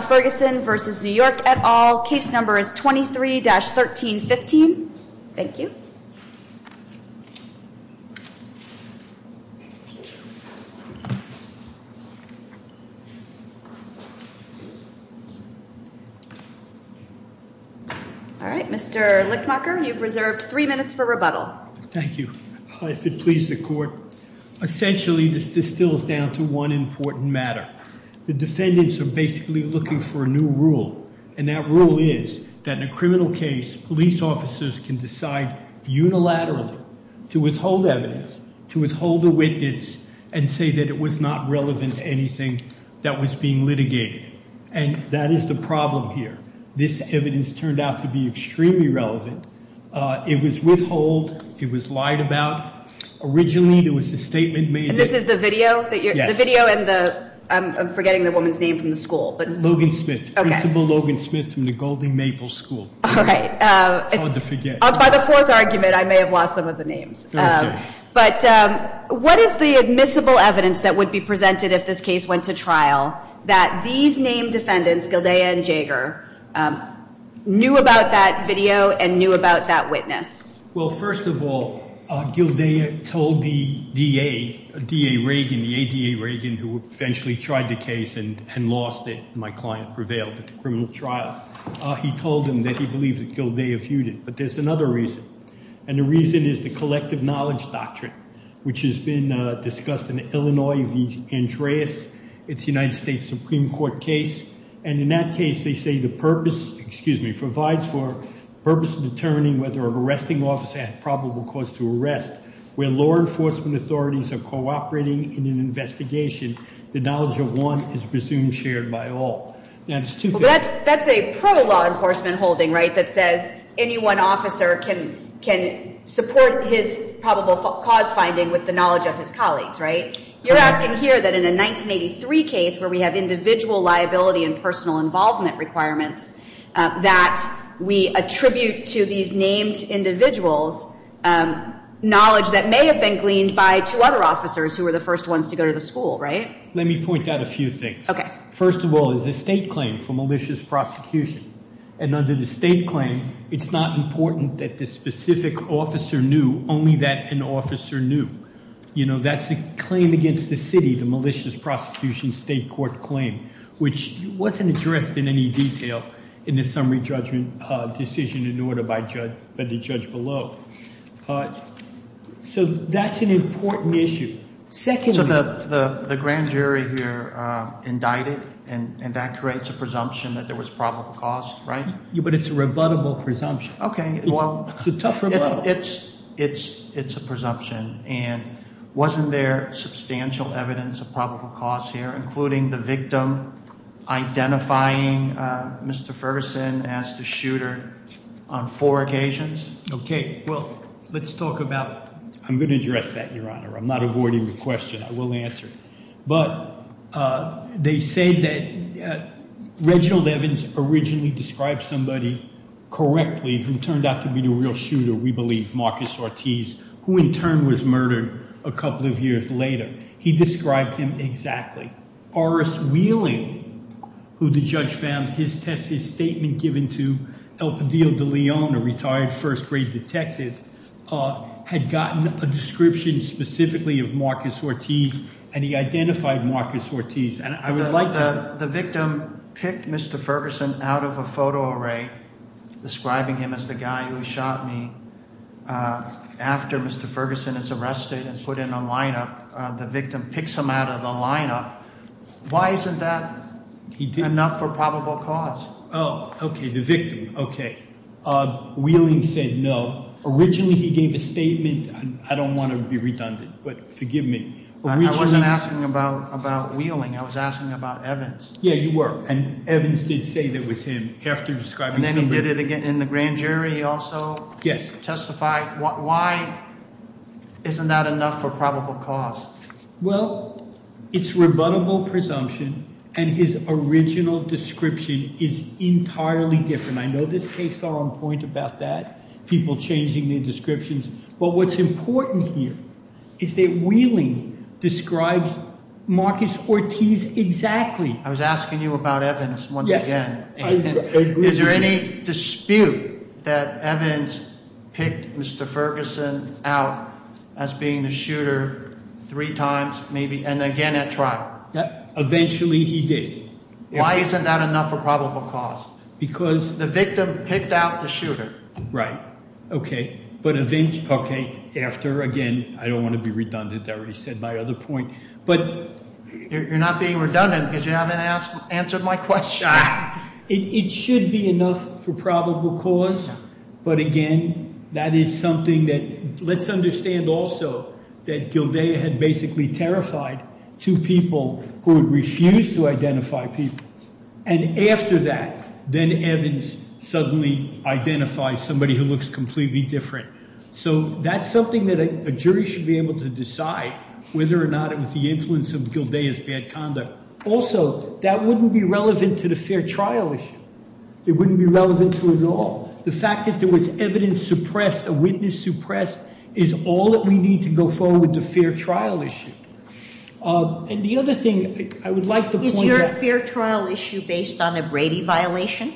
v. Ferguson v. New York et al. Case number is 23-1315. Thank you. Mr. Lickmucker, you've reserved three minutes for rebuttal. Thank you. If it pleases the Court, essentially this distills down to one important matter. The defendants are basically looking for a new rule, and that rule is that in a criminal case, police officers can decide unilaterally to withhold evidence, to withhold a witness, and say that it was not relevant to anything that was being litigated. And that is the problem here. This evidence turned out to be extremely relevant. It was withheld. It was lied about. Originally there was a statement made. This is the video? The video and the—I'm forgetting the woman's name from the school. Logan Smith. Principal Logan Smith from the Golding-Maple School. By the fourth argument, I may have lost some of the names. But what is the admissible evidence that would be presented if this case went to trial, that these named defendants, Gildaya and Jaeger, knew about that video and knew about that witness? Well, first of all, Gildaya told the DA, DA Reagan, the ADA Reagan, who eventually tried the case and lost it, my client prevailed at the criminal trial, he told them that he believed that Gildaya viewed it. But there's another reason, and the reason is the collective knowledge doctrine, which has been discussed in Illinois v. Andreas. It's a United States Supreme Court case. And in that case they say the purpose—excuse me—provides for purpose of determining whether an arresting officer has probable cause to arrest. When law enforcement authorities are cooperating in an investigation, the knowledge of one is presumed shared by all. That's a pro-law enforcement holding, right, that says any one officer can support his probable cause finding with the knowledge of his colleagues, right? You're asking here that in a 1983 case where we have individual liability and personal involvement requirements, that we attribute to these named individuals knowledge that may have been gleaned by two other officers who were the first ones to go to the school, right? Let me point out a few things. First of all, it's a state claim for malicious prosecution. And under the state claim, it's not important that the specific officer knew, only that an officer knew. That's a claim against the city, the malicious prosecution state court claim, which wasn't addressed in any detail in the summary judgment decision in order by the judge below. So that's an important issue. Secondly— So the grand jury here indicted, and that creates a presumption that there was probable cause, right? But it's a rebuttable presumption. Okay, well— It's a tough rebuttal. Well, it's a presumption, and wasn't there substantial evidence of probable cause here, including the victim identifying Mr. Ferguson as the shooter on four occasions? Okay, well, let's talk about— I'm going to address that, Your Honor. I'm not avoiding the question. I will answer it. But they said that Reginald Evans originally described somebody correctly who turned out to be the real shooter, we believe, Marcus Ortiz, who in turn was murdered a couple of years later. He described him exactly. Horace Wheeling, who the judge found his statement given to El Padillo de Leon, a retired first-grade detective, had gotten a description specifically of Marcus Ortiz, and he identified Marcus Ortiz. And I would like to— The victim picked Mr. Ferguson out of a photo array describing him as the guy who shot me. After Mr. Ferguson is arrested and put in a lineup, the victim picks him out of the lineup. Why isn't that enough for probable cause? Oh, okay, the victim. Okay. Wheeling said no. Originally he gave a statement. I don't want to be redundant, but forgive me. I wasn't asking about Wheeling. I was asking about Evans. Yeah, you were. And Evans did say that was him after describing somebody. And then he did it again in the grand jury. He also testified. Why isn't that enough for probable cause? Well, it's rebuttable presumption, and his original description is entirely different. I know this case is on point about that, people changing their descriptions. But what's important here is that Wheeling describes Marcus Ortiz exactly. I was asking you about Evans once again. Yes, I agree with you. Is there any dispute that Evans picked Mr. Ferguson out as being the shooter three times, maybe, and again at trial? Eventually he did. Why isn't that enough for probable cause? Because— The victim picked out the shooter. Right. But eventually—okay. After, again, I don't want to be redundant. I already said my other point. But— You're not being redundant because you haven't answered my question. It should be enough for probable cause. But, again, that is something that—let's understand also that Gildea had basically terrified two people who had refused to identify people. And after that, then Evans suddenly identifies somebody who looks completely different. So that's something that a jury should be able to decide whether or not it was the influence of Gildea's bad conduct. Also, that wouldn't be relevant to the fair trial issue. It wouldn't be relevant to it at all. The fact that there was evidence suppressed, a witness suppressed, is all that we need to go forward with the fair trial issue. And the other thing I would like to point out— Fair trial issue based on a Brady violation?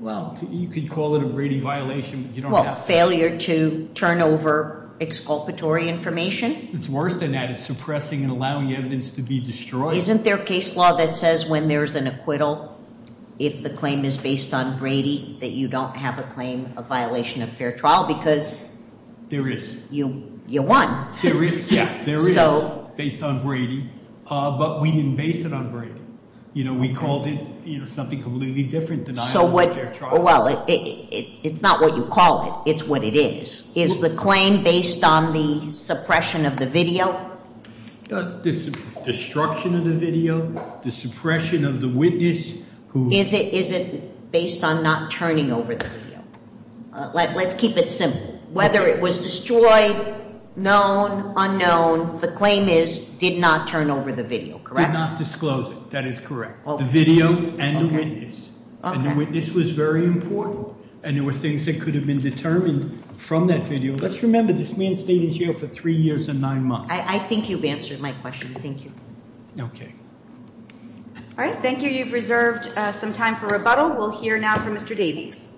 Well— You could call it a Brady violation, but you don't have to. Well, failure to turn over exculpatory information? It's worse than that. It's suppressing and allowing evidence to be destroyed. Isn't there a case law that says when there's an acquittal, if the claim is based on Brady, that you don't have a claim of violation of fair trial? Because— There is. You won. There is. Yeah, there is. Based on Brady. But we didn't base it on Brady. You know, we called it something completely different than— So what— Well, it's not what you call it. It's what it is. Is the claim based on the suppression of the video? The destruction of the video, the suppression of the witness who— Is it based on not turning over the video? Let's keep it simple. Whether it was destroyed, known, unknown, the claim is did not turn over the video, correct? We did not disclose it. That is correct. The video and the witness. And the witness was very important, and there were things that could have been determined from that video. Let's remember this man stayed in jail for three years and nine months. I think you've answered my question. Thank you. Okay. All right. Thank you. You've reserved some time for rebuttal. We'll hear now from Mr. Davies.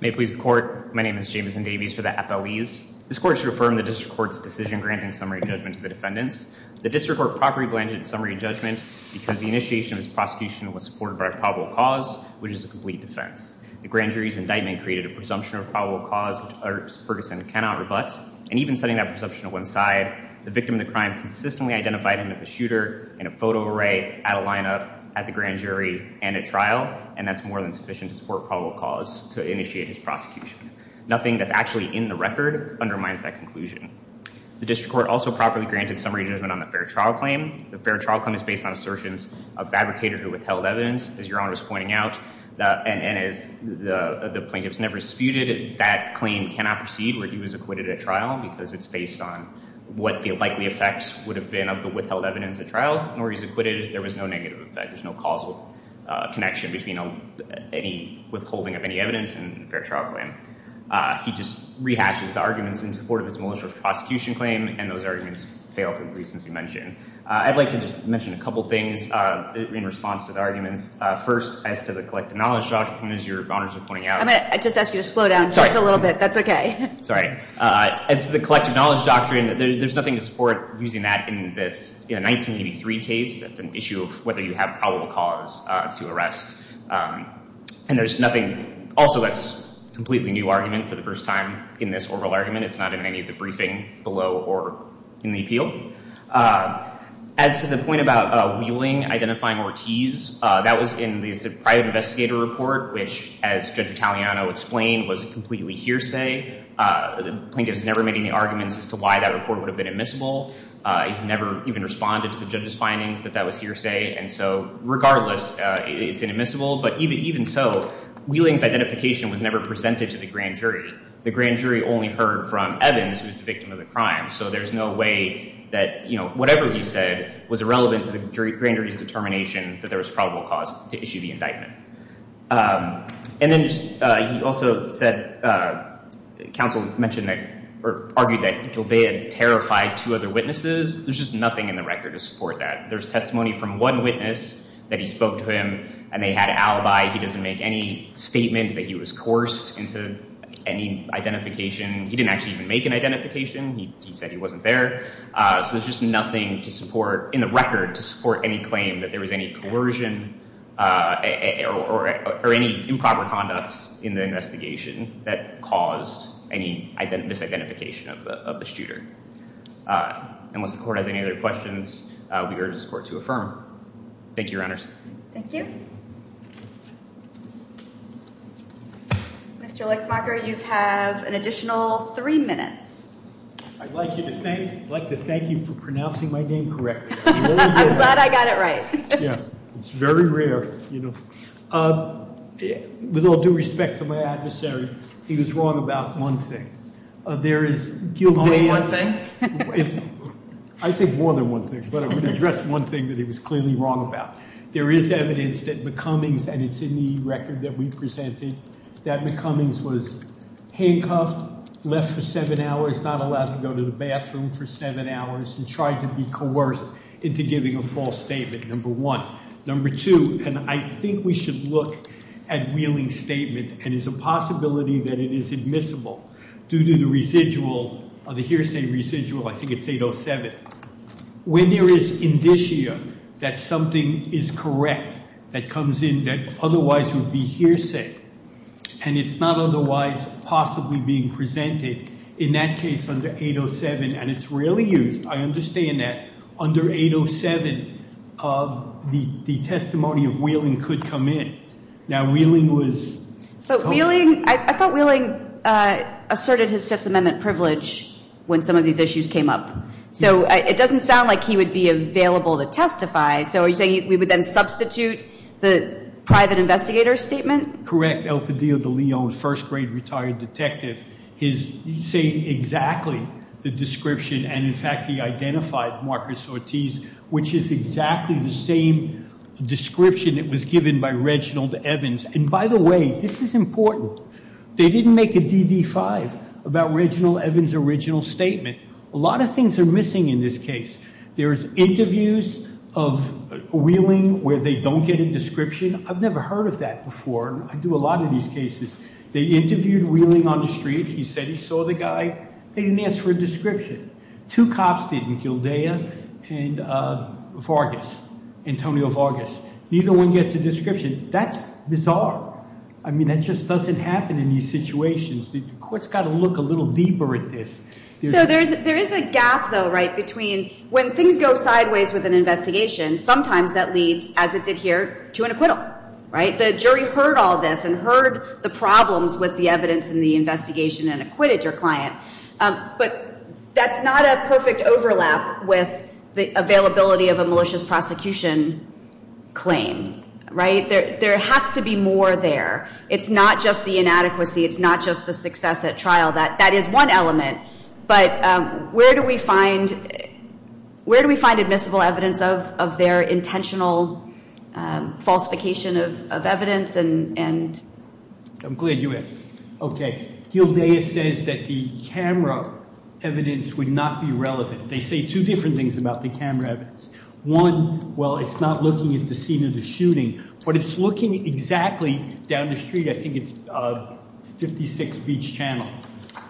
May it please the court. My name is Jameson Davies for the FLEs. This court should affirm the district court's decision granting summary judgment to the defendants. The district court properly granted summary judgment because the initiation of this prosecution was supported by a probable cause, which is a complete defense. The grand jury's indictment created a presumption of probable cause, which Ferguson cannot rebut. And even setting that presumption to one side, the victim of the crime consistently identified him as a shooter in a photo array, at a lineup, at the grand jury, and at trial. And that's more than sufficient to support probable cause to initiate his prosecution. Nothing that's actually in the record undermines that conclusion. The district court also properly granted summary judgment on the fair trial claim. The fair trial claim is based on assertions of fabricators who withheld evidence. As Your Honor is pointing out, and as the plaintiffs never disputed, that claim cannot proceed where he was acquitted at trial, because it's based on what the likely effects would have been of the withheld evidence at trial, nor he's acquitted. There was no negative effect. There's no causal connection between any withholding of any evidence and a fair trial claim. He just rehashes the arguments in support of his militia prosecution claim, and those arguments fail for the reasons we mentioned. I'd like to just mention a couple things in response to the arguments. First, as to the collective knowledge doctrine, as Your Honors are pointing out— I'm going to just ask you to slow down just a little bit. That's okay. Sorry. As to the collective knowledge doctrine, there's nothing to support using that in this 1983 case. That's an issue of whether you have probable cause to arrest. And there's nothing—also, that's a completely new argument for the first time in this oral argument. It's not in any of the briefing below or in the appeal. As to the point about Wheeling identifying Ortiz, that was in the private investigator report, which, as Judge Italiano explained, was completely hearsay. The plaintiff has never made any arguments as to why that report would have been admissible. He's never even responded to the judge's findings that that was hearsay. And so, regardless, it's inadmissible. But even so, Wheeling's identification was never presented to the grand jury. The grand jury only heard from Evans, who's the victim of the crime. So there's no way that, you know, whatever he said was irrelevant to the grand jury's determination that there was probable cause to issue the indictment. And then he also said—counsel mentioned that—or argued that Gilbey had terrified two other witnesses. There's just nothing in the record to support that. There's testimony from one witness that he spoke to him, and they had an alibi. He doesn't make any statement that he was coerced into any identification. He didn't actually even make an identification. He said he wasn't there. So there's just nothing to support, in the record, to support any claim that there was any coercion or any improper conduct in the investigation that caused any misidentification of the shooter. Unless the court has any other questions, we urge this court to affirm. Thank you, Your Honors. Thank you. Thank you. Mr. Lichtmacher, you have an additional three minutes. I'd like to thank you for pronouncing my name correctly. I'm glad I got it right. It's very rare. With all due respect to my adversary, he was wrong about one thing. Only one thing? I think more than one thing, but I would address one thing that he was clearly wrong about. There is evidence that McCummings, and it's in the record that we presented, that McCummings was handcuffed, left for seven hours, not allowed to go to the bathroom for seven hours, and tried to be coerced into giving a false statement, number one. Number two, and I think we should look at Wheeling's statement, and it's a possibility that it is admissible due to the residual, the hearsay residual. I think it's 807. When there is indicia that something is correct that comes in that otherwise would be hearsay, and it's not otherwise possibly being presented, in that case under 807, and it's rarely used. I understand that. Under 807, the testimony of Wheeling could come in. Now, Wheeling was told. But Wheeling, I thought Wheeling asserted his Fifth Amendment privilege when some of these issues came up. So it doesn't sound like he would be available to testify. So are you saying we would then substitute the private investigator's statement? El Padillo de Leon, first-grade retired detective, is saying exactly the description, and, in fact, he identified Marcus Ortiz, which is exactly the same description that was given by Reginald Evans. And, by the way, this is important. They didn't make a DD-5 about Reginald Evans' original statement. A lot of things are missing in this case. There's interviews of Wheeling where they don't get a description. I've never heard of that before. I do a lot of these cases. They interviewed Wheeling on the street. He said he saw the guy. They didn't ask for a description. Two cops did, Gildaya and Vargas, Antonio Vargas. Neither one gets a description. That's bizarre. I mean, that just doesn't happen in these situations. The court's got to look a little deeper at this. So there is a gap, though, right, between when things go sideways with an investigation, sometimes that leads, as it did here, to an acquittal, right? The jury heard all this and heard the problems with the evidence in the investigation and acquitted your client. But that's not a perfect overlap with the availability of a malicious prosecution claim, right? There has to be more there. It's not just the inadequacy. It's not just the success at trial. That is one element. But where do we find admissible evidence of their intentional falsification of evidence? I'm glad you asked. Okay. Gildaya says that the camera evidence would not be relevant. They say two different things about the camera evidence. One, well, it's not looking at the scene of the shooting, but it's looking exactly down the street. I think it's 56 Beach Channel,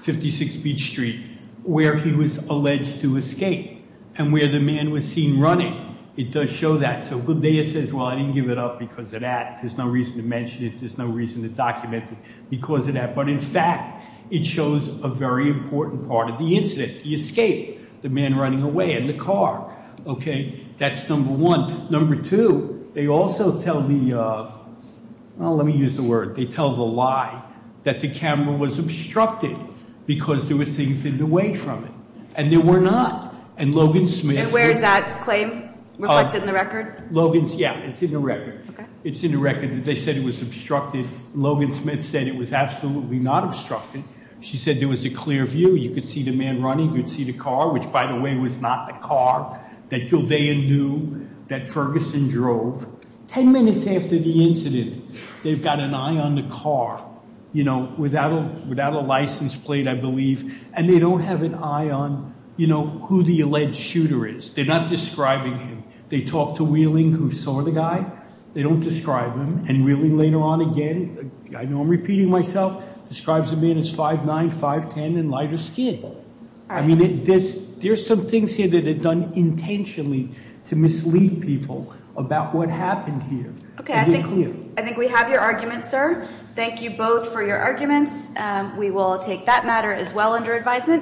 56 Beach Street, where he was alleged to escape and where the man was seen running. It does show that. So Gildaya says, well, I didn't give it up because of that. There's no reason to mention it. There's no reason to document it because of that. But, in fact, it shows a very important part of the incident. He escaped, the man running away in the car. Okay. That's number one. Number two, they also tell the, well, let me use the word, they tell the lie that the camera was obstructed because there were things in the way from it. And there were not. And Logan Smith. And where is that claim reflected in the record? Logan's, yeah, it's in the record. It's in the record. They said it was obstructed. Logan Smith said it was absolutely not obstructed. She said there was a clear view. You could see the man running. You could see the car, which, by the way, was not the car that Gildaya knew that Ferguson drove. Ten minutes after the incident, they've got an eye on the car, you know, without a license plate, I believe, and they don't have an eye on, you know, who the alleged shooter is. They're not describing him. They talked to Wheeling, who saw the guy. They don't describe him. And Wheeling later on again, I know I'm repeating myself, describes the man as 5'9", 5'10", and lighter skin. I mean, there's some things here that are done intentionally to mislead people about what happened here. Okay, I think we have your argument, sir. Thank you both for your arguments. We will take that matter as well under advisement.